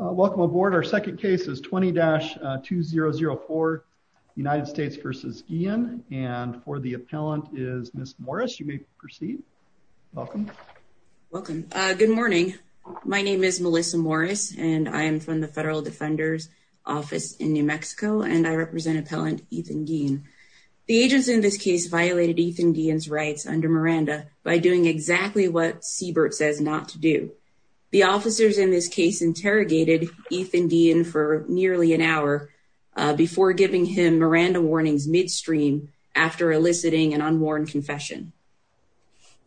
Welcome aboard. Our second case is 20-2004 United States v. Guillen, and for the appellant is Ms. Morris. You may proceed. Welcome. Welcome. Good morning. My name is Melissa Morris, and I am from the Federal Defender's Office in New Mexico, and I represent Appellant Ethan Guillen. The agents in this case violated Ethan Guillen's rights under Miranda by doing exactly what Siebert says not to do. The officers in this case interrogated Ethan Guillen for nearly an hour before giving him Miranda warnings midstream after eliciting an unworn confession.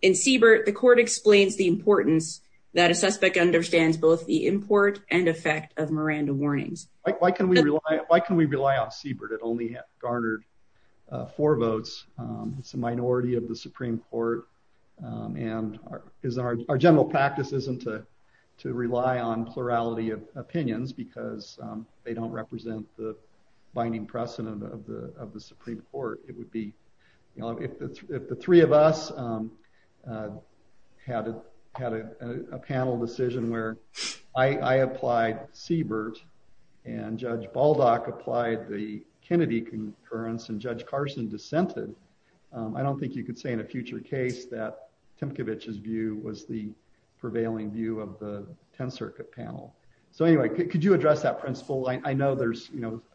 In Siebert, the court explains the importance that a suspect understands both the import and effect of Miranda warnings. Why can we rely on Siebert? It only garnered four votes. It's a our general practice isn't to rely on plurality of opinions because they don't represent the binding precedent of the Supreme Court. If the three of us had a panel decision where I applied Siebert and Judge Baldock applied the Kennedy concurrence and Judge Carson dissented, I don't think you could say in a future case that Timkovich's view was the prevailing view of the 10th Circuit panel. So anyway, could you address that principle? I know there's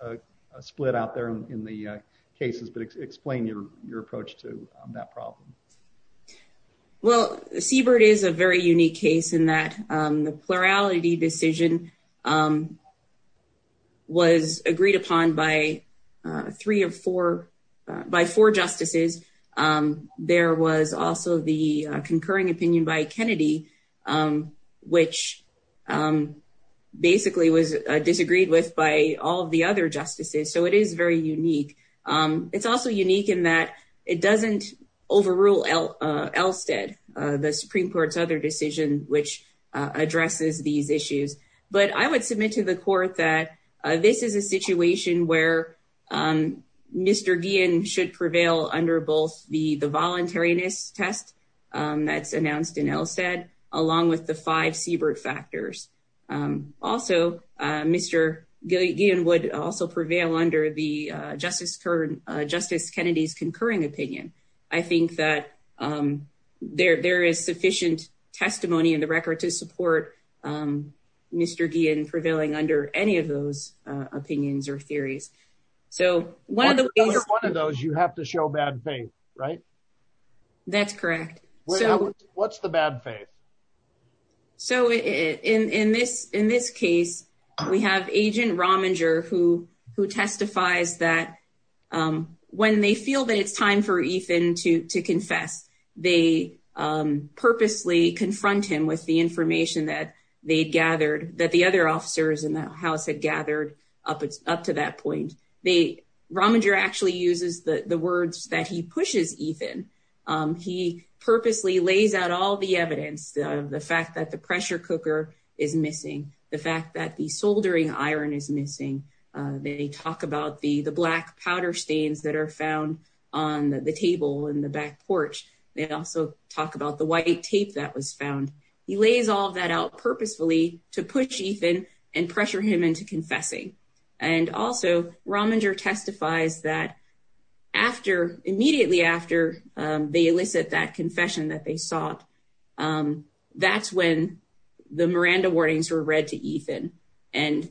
a split out there in the cases, but explain your your approach to that problem. Well, Siebert is a very unique case in that the plurality decision was agreed upon by three or four, by four justices. There was also the concurring opinion by Kennedy, which basically was disagreed with by all the other justices. So it is very unique. It's also unique in that it doesn't overrule Elstead, the Supreme Court's other decision, which addresses these issues. But I would submit to the court that this is a situation where Mr. Guillen should prevail under both the voluntariness test that's announced in Elstead, along with the five Siebert factors. Also, Mr. Guillen would also prevail under the record to support Mr. Guillen prevailing under any of those opinions or theories. If you're one of those, you have to show bad faith, right? That's correct. What's the bad faith? So in this case, we have Agent Rominger who testifies that when they feel that it's time for Ethan to confess, they purposely confront him with the information that the other officers in the house had gathered up to that point. Rominger actually uses the words that he pushes Ethan. He purposely lays out all the evidence, the fact that the pressure cooker is missing, the fact that the soldering iron is missing. They talk about the black powder stains that are found on the table and the back porch. They also talk about the white tape that was found. He lays all that out purposefully to push Ethan and pressure him into confessing. And also, Rominger testifies that immediately after they elicit that confession that they sought, that's when the Miranda warnings were read to Ethan. And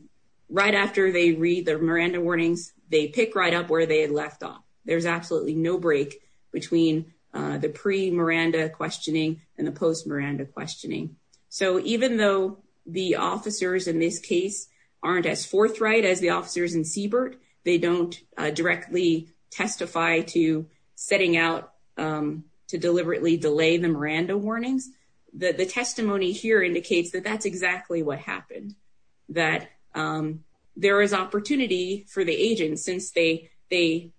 right after they read their Miranda warnings, they pick right up where they had left off. There's absolutely no break between the pre-Miranda questioning and the post-Miranda questioning. So even though the officers in this case aren't as forthright as the officers in Siebert, they don't directly testify to setting out to deliberately delay the Miranda warnings. The testimony here indicates that that's exactly what happened, that there was opportunity for the agents since they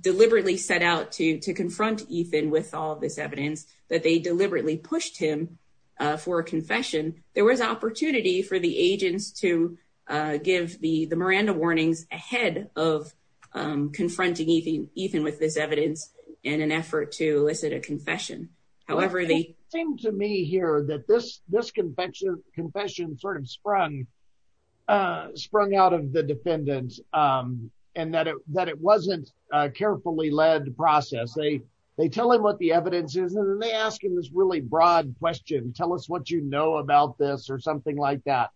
deliberately set out to confront Ethan with all this evidence, that they deliberately pushed him for a confession. There was opportunity for the agents to give the Miranda warnings ahead of confronting Ethan with this evidence in an effort to elicit a confession. However, they- It seemed to me here that this confession sort of sprung out of the defendant and that it wasn't a carefully led process. They tell him what the evidence is and then they ask him this really broad question, tell us what you know about this or something like that.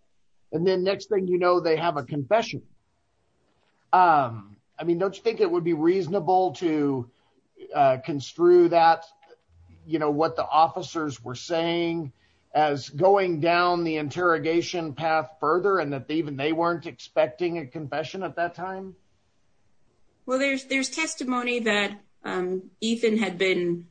And then next thing you know, they have a confession. I mean, don't you think it would be reasonable to construe that what the officers were saying as going down the interrogation path further and that even they weren't expecting a confession at that time? Well, there's testimony that Ethan had been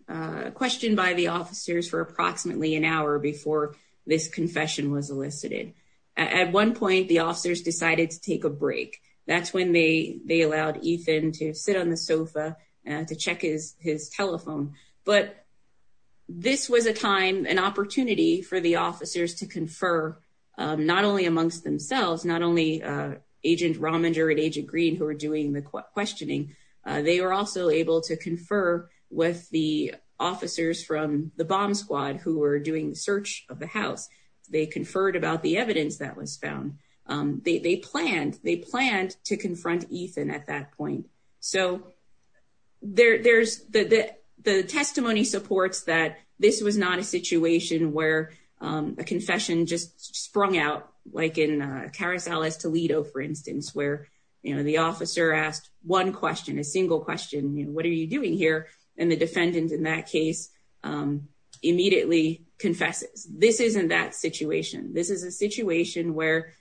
questioned by the officers for approximately an hour before this confession was elicited. At one point, the officers decided to take a break. That's when they allowed Ethan to sit on the sofa to check his telephone. But this was a time, an opportunity for the officers to confer not only amongst themselves, not only Agent Rominger and Agent Green who were doing the questioning. They were also able to confer with the officers from the bomb squad who were doing the search of the house. They conferred about the evidence that was found. They planned to confront Ethan at that point. So, there's- The testimony supports that this was not a situation where a confession just sprung out like in Carousel Es Toledo, for instance, where the officer asked one question, a single question, what are you doing here? And the defendant in that case immediately confesses. This isn't that situation. This is a situation where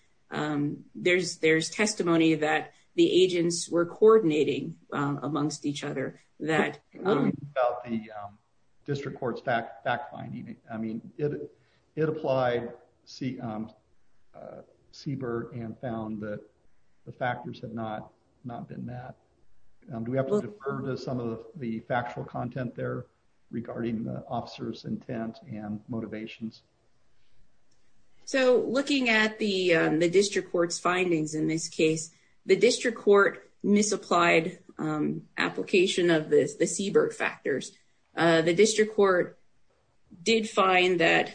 there's testimony that the agents were coordinating amongst each other that- About the district court's fact finding, I mean, it applied CBER and found that the factors had not been met. Do we have to defer to some of the factual content there regarding the officer's intent and motivations? So, looking at the district court's findings in this case, the district court misapplied application of the CBER factors. The district court did find that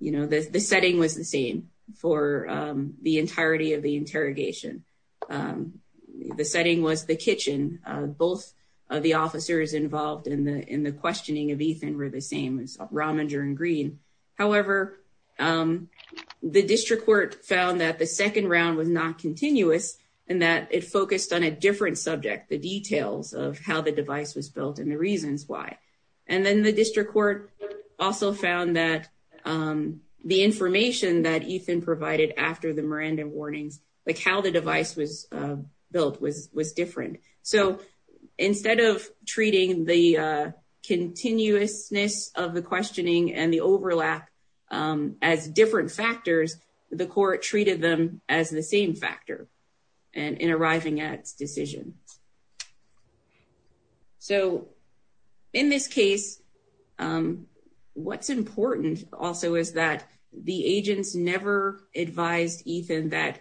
the setting was the same for the entirety of the interrogation. The setting was the kitchen. Both of the officers involved in the questioning of Ethan were the same as Rominger and Green. However, the district court found that the second round was not continuous and that it focused on a different subject, the details of how the device was built and the reasons why. And then the district court also found that the information that Ethan provided after the Miranda warnings, like how the device was built was different. So, instead of treating the continuousness of the questioning and the overlap as different factors, the court treated them as the same factor in arriving at decision. So, in this case, what's important also is that the agents never advised Ethan that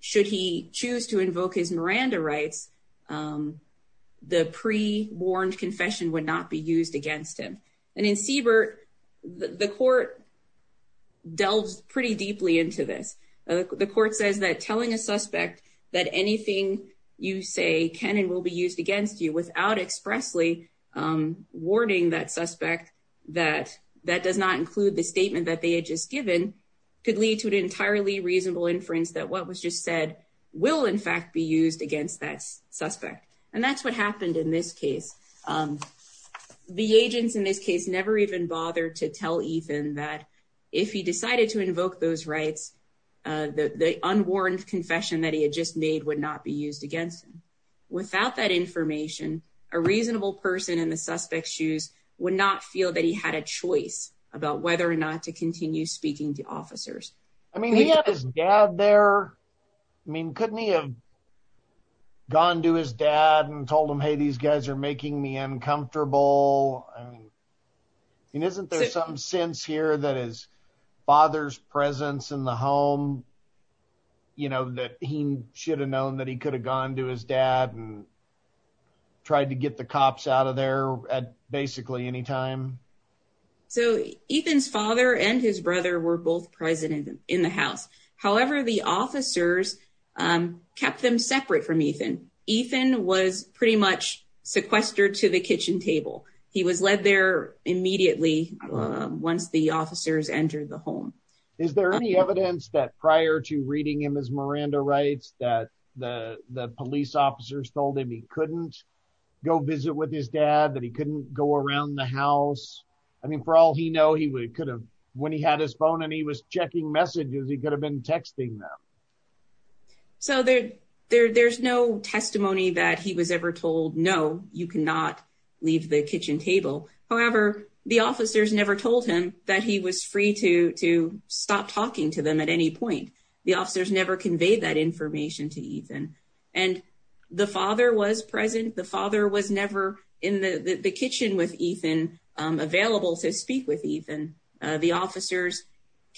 should he choose to invoke his Miranda rights, the pre-warned confession would not be used against him. And in CBER, the court delves pretty deeply into this. The court says that telling a suspect that anything you say can and will be used without expressly warning that suspect that that does not include the statement that they had just given could lead to an entirely reasonable inference that what was just said will, in fact, be used against that suspect. And that's what happened in this case. The agents in this case never even bothered to tell Ethan that if he decided to invoke those rights, the unwarned that he had just made would not be used against him. Without that information, a reasonable person in the suspect's shoes would not feel that he had a choice about whether or not to continue speaking to officers. I mean, he had his dad there. I mean, couldn't he have gone to his dad and told him, hey, these guys are making me uncomfortable. I mean, isn't there some sense here that his father's presence in the home, that he should have known that he could have gone to his dad and tried to get the cops out of there at basically any time? So Ethan's father and his brother were both present in the house. However, the officers kept them separate from Ethan. Ethan was pretty much sequestered to the kitchen table. He was led there immediately once the officers entered the home. Is there any evidence that prior to reading him as Miranda Rights, that the police officers told him he couldn't go visit with his dad, that he couldn't go around the house? I mean, for all he know, when he had his phone and he was checking messages, he could have been texting them. So there's no testimony that he was ever told, no, you cannot leave the kitchen table. However, the officers never told him that he was free to stop talking to them at any point. The officers never conveyed that information to Ethan. And the father was present. The father was never in the kitchen with Ethan, available to speak with Ethan. The officers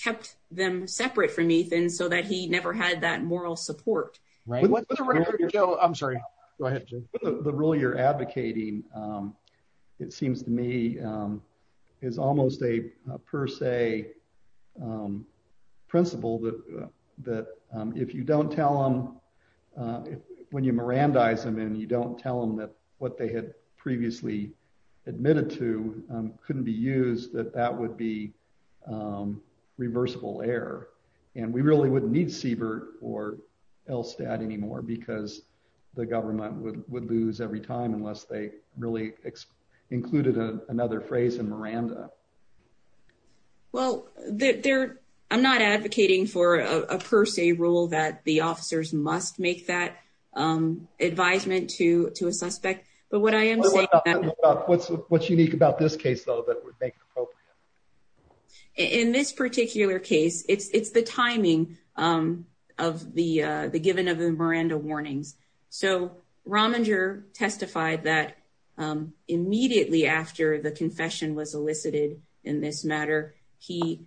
kept them separate from Ethan so that he never had that moral support. Right. I'm sorry. Go ahead. The rule you're advocating, it seems to me, is almost a per se principle that, that if you don't tell them, when you Mirandize them, and you don't tell them that what they had previously admitted to couldn't be used, that that would be or LSTAT anymore, because the government would lose every time unless they really included another phrase in Miranda. Well, I'm not advocating for a per se rule that the officers must make that advisement to a suspect. But what I am saying... What's unique about this case, though, that would make it appropriate? In this particular case, it's the timing of the given of the Miranda warnings. So Rominger testified that immediately after the confession was elicited in this matter, he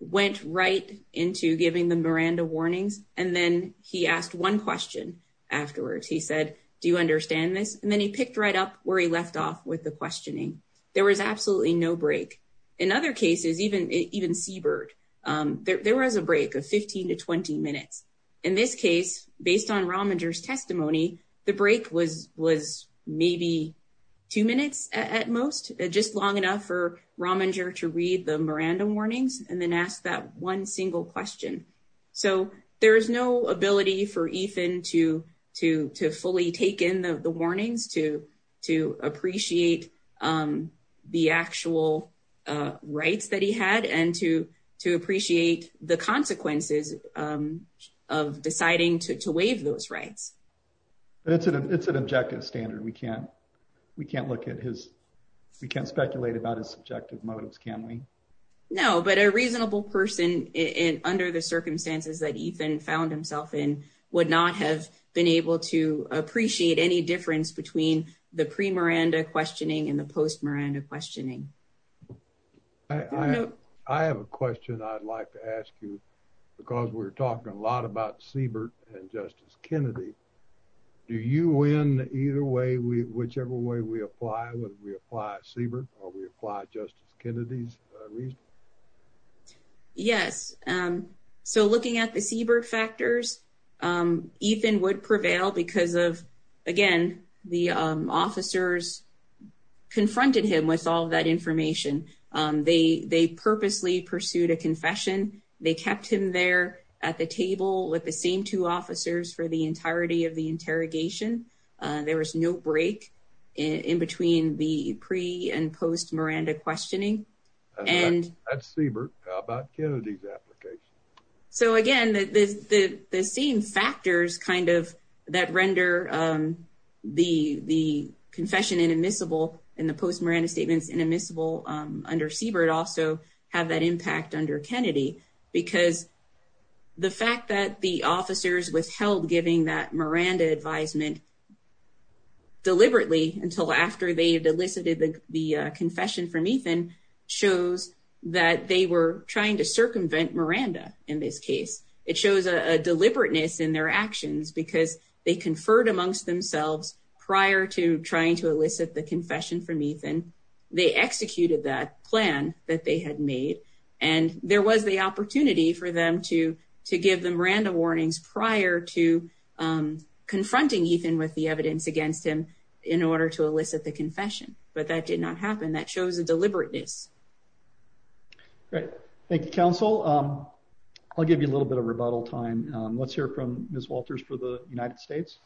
went right into giving the Miranda warnings. And then he asked one question afterwards. He said, do you understand this? And then he picked right up where he left off with the questioning. There was absolutely no break. In other cases, even Seabird, there was a break of 15 to 20 minutes. In this case, based on Rominger's testimony, the break was maybe two minutes at most, just long enough for Rominger to read the Miranda warnings and then ask that single question. So there is no ability for Ethan to fully take in the warnings, to appreciate the actual rights that he had and to appreciate the consequences of deciding to waive those rights. But it's an objective standard. We can't look at his... We can't speculate about his under the circumstances that Ethan found himself in would not have been able to appreciate any difference between the pre-Miranda questioning and the post-Miranda questioning. I have a question I'd like to ask you because we're talking a lot about Seabird and Justice Kennedy. Do you win either way, whichever way we apply, whether we apply Seabird or we apply Justice Kennedy's reasoning? Yes. So looking at the Seabird factors, Ethan would prevail because of, again, the officers confronted him with all that information. They purposely pursued a confession. They kept him there at the table with the same two officers for the entirety of the interrogation. There was no break in between the pre- and post-Miranda questioning. That's Seabird. How about Kennedy's application? So again, the same factors that render the confession inadmissible and the post-Miranda statements inadmissible under Seabird also have that impact under Kennedy because the fact that the officers withheld giving that Miranda advisement deliberately until after they had elicited the confession from Ethan shows that they were trying to circumvent Miranda in this case. It shows a deliberateness in their actions because they conferred amongst themselves prior to trying to elicit the confession from that they had made, and there was the opportunity for them to give them Miranda warnings prior to confronting Ethan with the evidence against him in order to elicit the confession, but that did not happen. That shows a deliberateness. Great. Thank you, counsel. I'll give you a little bit of rebuttal time. Let's hear from Ms. Walters for the United States.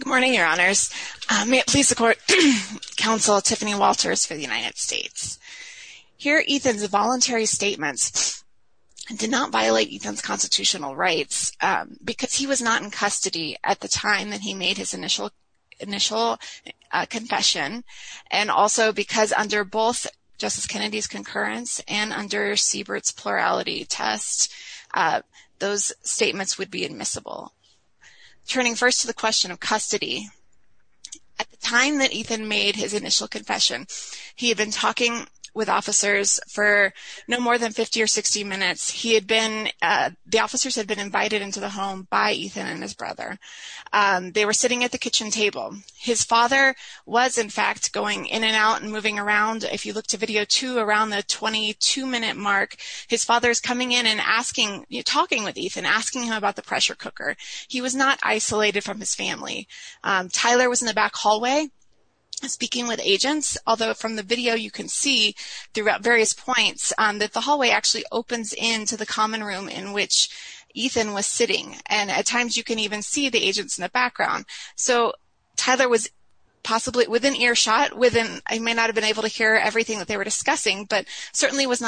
Good morning, your honors. May it please the court, counsel Tiffany Walters for the United States. Here, Ethan's voluntary statements did not violate Ethan's constitutional rights because he was not in custody at the time that he made his initial confession, and also because under both Justice Kennedy's concurrence and under Seabird's plurality test, those statements would be admissible. Turning first to the question of custody, at the time that Ethan made his initial confession, he had been talking with officers for no more than 50 or 60 minutes. The officers had been invited into the home by Ethan and his brother. They were sitting at the kitchen table. His father was, in fact, going in and out and talking with Ethan, asking him about the pressure cooker. He was not isolated from his family. Tyler was in the back hallway speaking with agents, although from the video you can see throughout various points that the hallway actually opens into the common room in which Ethan was sitting. At times, you can even see the agents in the background. Tyler was possibly within earshot. He may not have been able to hear everything that they were talking about. In addition,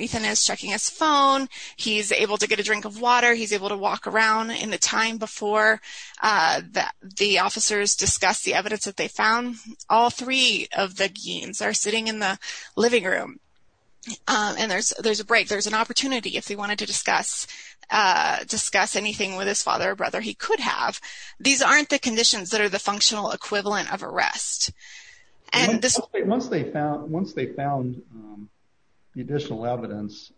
Ethan is checking his phone. He's able to get a drink of water. He's able to walk around. In the time before the officers discussed the evidence that they found, all three of the deans are sitting in the living room. There's a break. There's an opportunity, if he wanted to discuss anything with his father or brother, he could have. These aren't the conditions that are the functional equivalent of arrest. Once they found the additional evidence,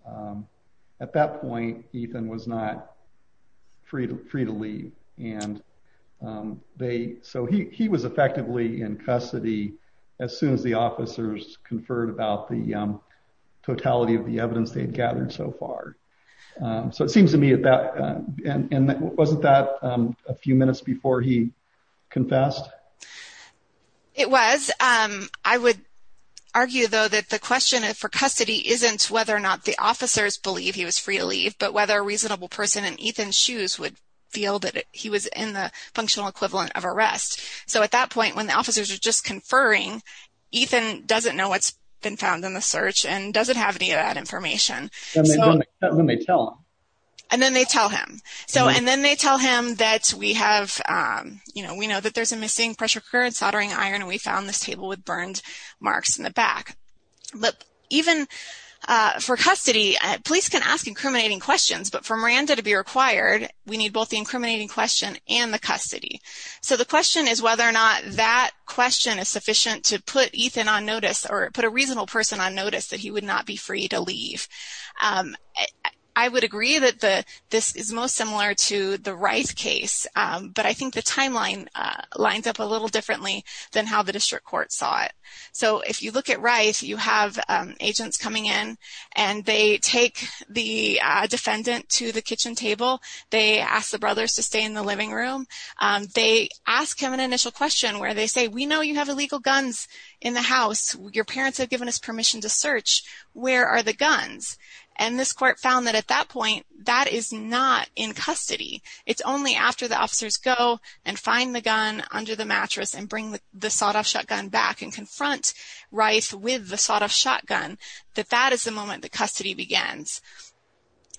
at that point, Ethan was not free to leave. He was effectively in custody as soon as the officers conferred about the totality of the evidence they had gathered so far. It seems to me that wasn't that a few minutes before he confessed? It was. I would argue, though, that the question for custody isn't whether or not the officers believe he was free to leave, but whether a reasonable person in Ethan's shoes would feel that he was in the functional equivalent of arrest. At that point, when the officers are just conferring, Ethan doesn't know what's been found in the search and doesn't have any of that information. Then they tell him. Then they tell him that we know that there's a missing pressure iron. We found this table with burned marks in the back. Even for custody, police can ask incriminating questions, but for Miranda to be required, we need both the incriminating question and the custody. The question is whether or not that question is sufficient to put Ethan on notice or put a reasonable person on notice that he would not be free to leave. I would agree that this is most similar to the Rice case, but I think the timeline lines up a little differently than how the district court saw it. If you look at Rice, you have agents coming in. They take the defendant to the kitchen table. They ask the brothers to stay in the living room. They ask him an initial question where they say, we know you have illegal guns in the house. Your parents have given us that. That is not in custody. It's only after the officers go and find the gun under the mattress and bring the sawed-off shotgun back and confront Rice with the sawed-off shotgun that that is the moment that custody begins.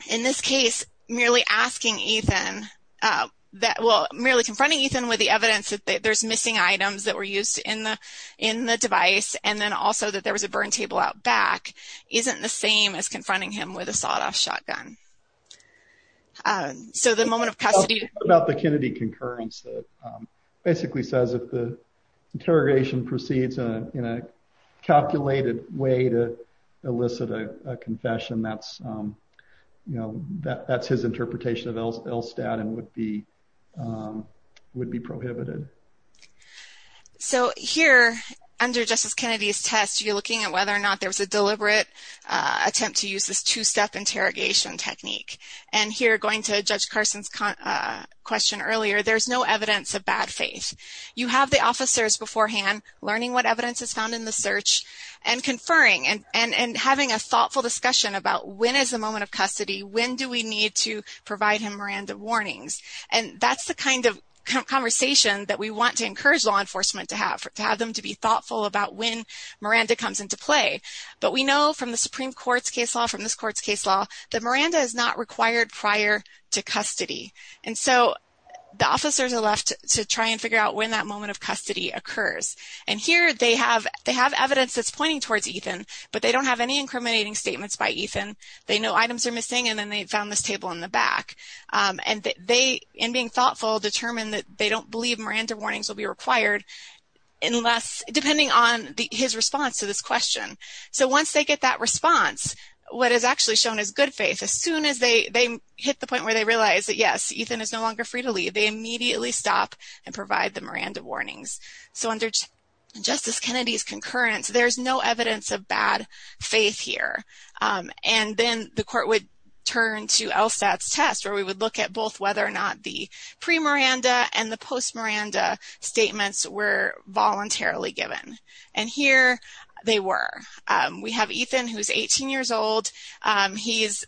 In this case, merely confronting Ethan with the evidence that there's missing items that were used in the device and then also that there was a burn table out back isn't the same as confronting him with a sawed-off shotgun. So the moment of custody... It's about the Kennedy concurrence that basically says if the interrogation proceeds in a calculated way to elicit a confession, that's his interpretation of Elstad and would be prohibited. So here, under Justice Kennedy's test, you're looking at whether or not there was a deliberate attempt to use this two-step interrogation technique. And here, going to Judge Carson's question earlier, there's no evidence of bad faith. You have the officers beforehand learning what evidence is found in the search and conferring and having a thoughtful discussion about when is the moment of custody? When do we need to provide him random warnings? And that's the kind of conversation that we want to encourage law enforcement to have, to have them to be thoughtful about when Miranda comes into play. But we know from the Supreme Court's case law, from this court's case law, that Miranda is not required prior to custody. And so the officers are left to try and figure out when that moment of custody occurs. And here, they have evidence that's pointing towards Ethan, but they don't have any incriminating statements by Ethan. They know items are missing, and then they found this in being thoughtful, determined that they don't believe Miranda warnings will be required unless, depending on his response to this question. So once they get that response, what is actually shown is good faith. As soon as they hit the point where they realize that, yes, Ethan is no longer free to leave, they immediately stop and provide the Miranda warnings. So under Justice Kennedy's concurrence, there's no evidence of bad faith here. And then the court would turn to LSAT's test, where we would look at both whether or not the pre-Miranda and the post-Miranda statements were voluntarily given. And here, they were. We have Ethan, who's 18 years old. He's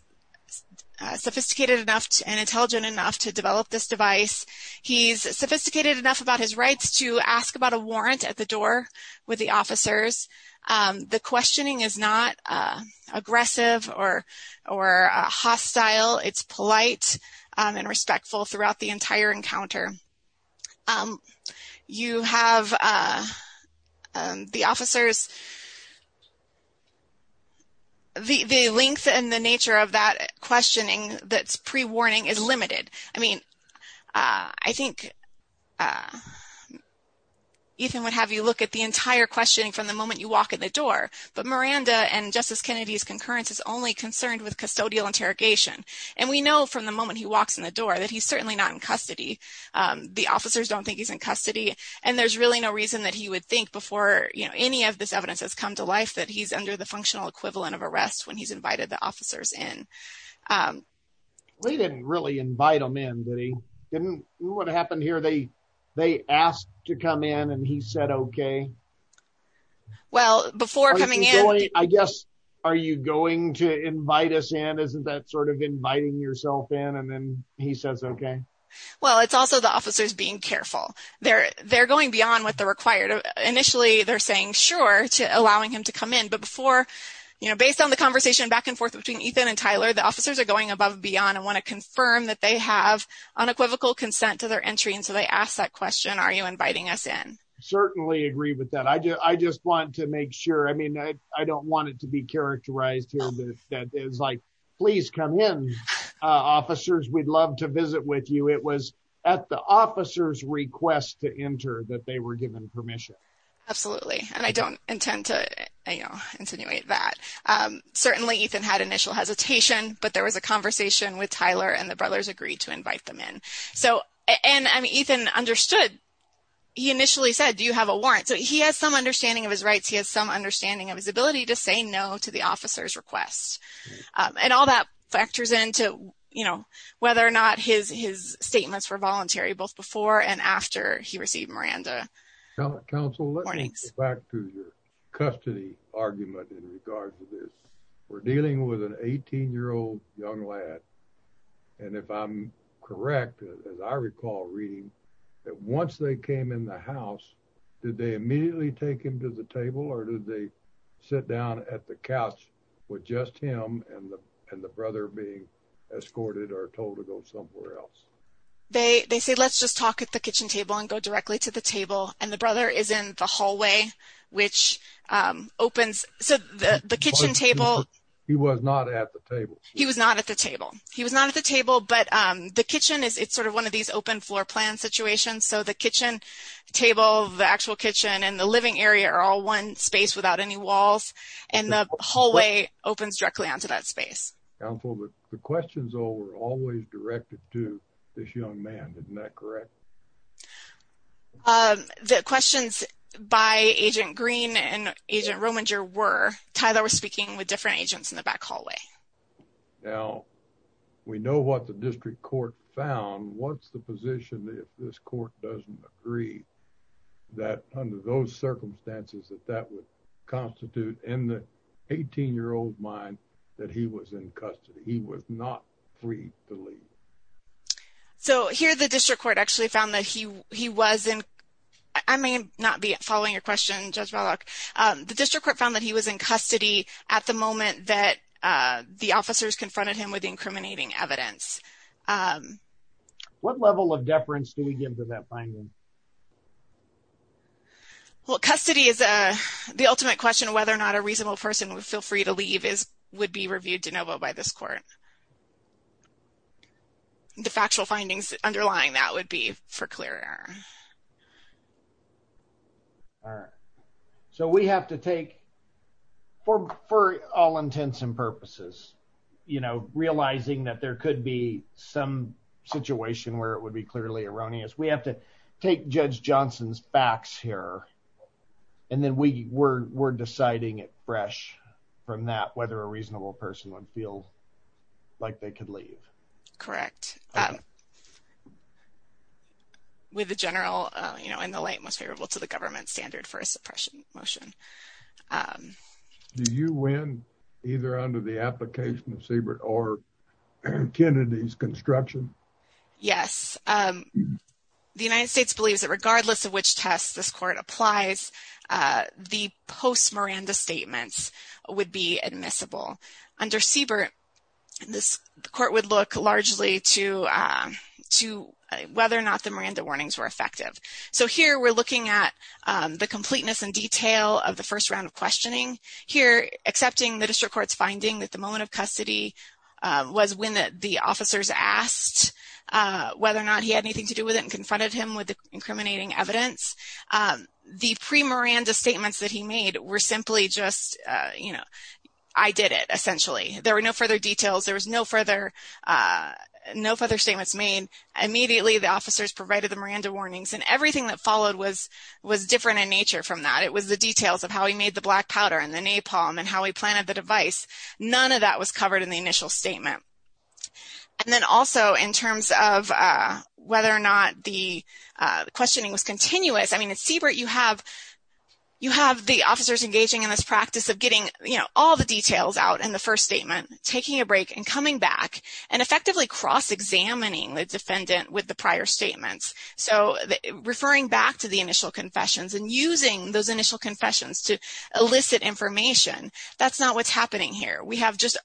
sophisticated enough and intelligent enough to develop this device. He's sophisticated enough about his rights to ask about a warrant at the officers. The questioning is not aggressive or hostile. It's polite and respectful throughout the entire encounter. You have the officers. The length and the nature of that questioning that's pre-warning is limited. I mean, I think Ethan would have you look at the entire questioning from the moment you walk in the door. But Miranda and Justice Kennedy's concurrence is only concerned with custodial interrogation. And we know from the moment he walks in the door that he's certainly not in custody. The officers don't think he's in custody. And there's really no reason that he would think before any of this evidence has come to life that he's under the functional equivalent of arrest when he's invited the officers in. We didn't really invite him in. What happened here? They asked to come in and he said, okay. Well, before coming in... I guess, are you going to invite us in? Isn't that sort of inviting yourself in? And then he says, okay. Well, it's also the officers being careful. They're going beyond what they're required. Initially, they're saying sure to allowing him to come in. But before, based on the conversation back and forth between Ethan and Tyler, the officers are going above beyond and want to confirm that they have unequivocal consent to their entry. And so, they ask that question. Are you inviting us in? Certainly agree with that. I just want to make sure. I mean, I don't want it to be characterized here that is like, please come in, officers. We'd love to visit with you. It was at the officer's request to enter that they were given permission. Absolutely. And I don't intend to insinuate that. Certainly, Ethan had initial hesitation, but there was a conversation with Tyler and the brothers agreed to invite them in. So, and I mean, Ethan understood. He initially said, do you have a warrant? So, he has some understanding of his rights. He has some understanding of his ability to say no to officer's request. And all that factors into, you know, whether or not his statements were voluntary, both before and after he received Miranda warnings. Back to your custody argument in regards to this. We're dealing with an 18 year old young lad. And if I'm correct, as I recall reading that once they came in the house, did they immediately take him to the table? Or did they sit down at the couch with just him and the brother being escorted or told to go somewhere else? They say, let's just talk at the kitchen table and go directly to the table. And the brother is in the hallway, which opens the kitchen table. He was not at the table. He was not at the table. He was not at the table. But the kitchen is it's sort of one of these open floor plan situations. So, the kitchen table, the actual kitchen and the living area are all one space without any walls. And the hallway opens directly onto that space. The questions were always directed to this young man. Isn't that correct? The questions by Agent Green and Agent Rominger were, Tyler was speaking with different agents in the back hallway. Now, we know what the district court found. What's the position if this court doesn't agree that under those circumstances, that that would constitute in the 18-year-old mind that he was in custody, he was not free to leave? So, here the district court actually found that he was in, I may not be following your question, Judge Ballock. The district court found that he was in custody at the moment that the officers confronted him with incriminating evidence. What level of deference do we give to that finding? Well, custody is the ultimate question whether or not a reasonable person would feel free to leave is would be reviewed de novo by this court. The factual findings underlying that would be for clear error. All right. So, we have to take for all intents and purposes, you know, realizing that there could be some situation where it would be clearly erroneous. We have to take Judge Johnson's backs here and then we're deciding it fresh from that whether a reasonable person would feel like they could leave. Correct. With the general, you know, in the light most favorable to the government standard for a application of Siebert or Kennedy's construction? Yes. The United States believes that regardless of which test this court applies, the post-Miranda statements would be admissible. Under Siebert, this court would look largely to whether or not the Miranda warnings were effective. So, here we're looking at the completeness and detail of the first round of questioning. Here, accepting the district court's finding that the moment of custody was when the officers asked whether or not he had anything to do with it and confronted him with the incriminating evidence. The pre-Miranda statements that he made were simply just, you know, I did it essentially. There were no further details. There was no further statements made. Immediately, the officers provided the Miranda warnings and everything that followed was different in nature from that. It was the details of how he made the black powder and the napalm and how he planted the device. None of that was covered in the initial statement. And then also, in terms of whether or not the questioning was continuous, I mean, at Siebert, you have the officers engaging in this practice of getting, you know, all the details out in the first statement, taking a break and coming back and effectively cross-examining the defendant with the prior statements. So, referring back to the initial confessions and using those initial confessions to elicit information, that's not what's happening here. We have just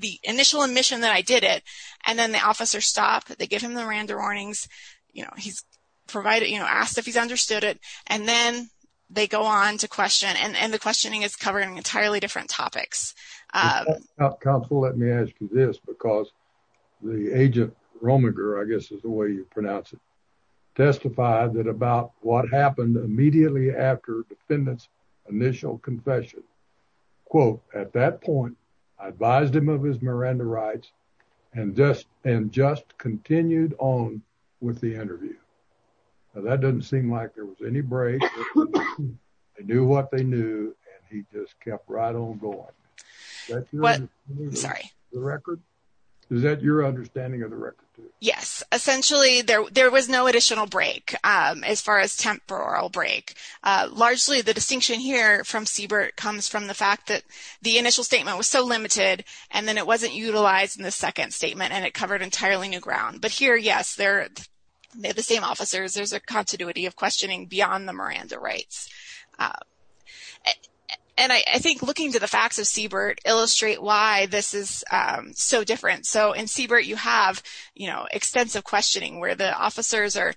the initial admission that I did it and then the officers stop, they give him the Miranda warnings, you know, he's provided, you know, asked if he's understood it and then they go on to question and the questioning is covering entirely different topics. Counsel, let me ask you this because the agent Rominger, I guess is the way you pronounce it, testified that about what happened immediately after the defendant's initial confession. Quote, at that point, I advised him of his Miranda rights and just continued on with the interview. Now, that doesn't seem like there was any break. They knew what they knew and he just kept right on going. Sorry. Is that your understanding of the record? Yes. Essentially, there was no additional break as far as break. Largely, the distinction here from Siebert comes from the fact that the initial statement was so limited and then it wasn't utilized in the second statement and it covered entirely new ground. But here, yes, they're the same officers. There's a continuity of questioning beyond the Miranda rights. And I think looking to the facts of Siebert illustrate why this is so different. In Siebert, you have extensive questioning where the officers are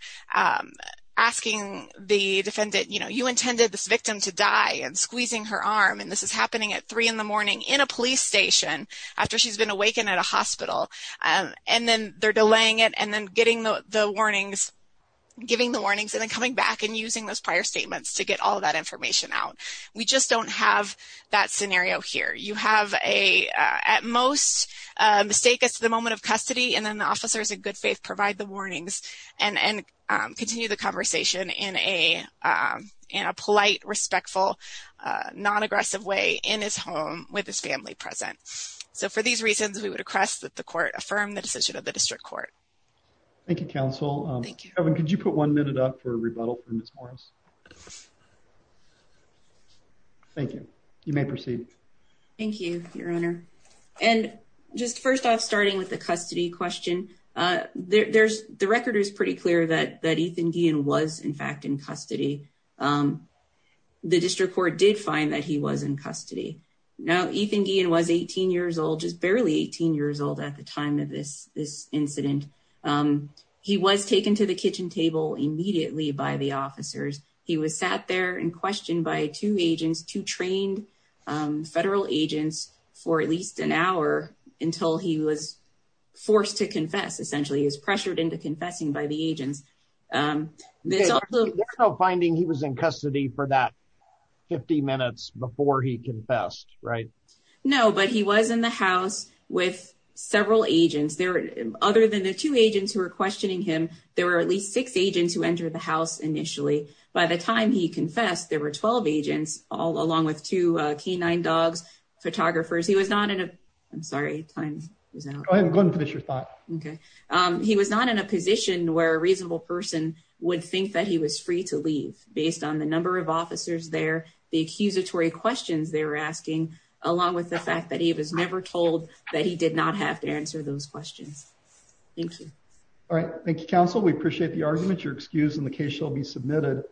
asking the defendant, you intended this victim to die and squeezing her arm and this is happening at three in the morning in a police station after she's been awakened at a hospital. And then they're delaying it and then giving the warnings and then coming back and using those prior statements to get all that information out. We just don't have that scenario here. You have a, at most, a mistake at the moment of custody and then the officers, in good faith, provide the warnings and continue the conversation in a polite, respectful, non-aggressive way in his home with his family present. So, for these reasons, we would request that the court affirm the decision of the district court. Thank you, counsel. Thank you. Kevin, could you put one minute up for questions? Thank you. You may proceed. Thank you, your honor. And just first off, starting with the custody question, the record is pretty clear that Ethan Guillen was, in fact, in custody. The district court did find that he was in custody. Now, Ethan Guillen was 18 years old, just barely 18 years old at the time of this incident. He was taken to the kitchen table immediately by the officers. He was sat there and questioned by two agents, two trained federal agents, for at least an hour until he was forced to confess. Essentially, he was pressured into confessing by the agents. There's no finding he was in custody for that 50 minutes before he confessed, right? No, but he was in the house with several agents. Other than the two agents who were questioning him, there were at least six agents who entered the house initially. By the time he confessed, there were 12 agents, along with two canine dogs, photographers. He was not in a position where a reasonable person would think that he was free to leave, based on the number of officers there, the accusatory questions they were asking, along with the fact that he was never told that he did not have to answer those questions. Thank you. All right. Thank you, Council. We appreciate the argument. Your excuse in the case shall be submitted.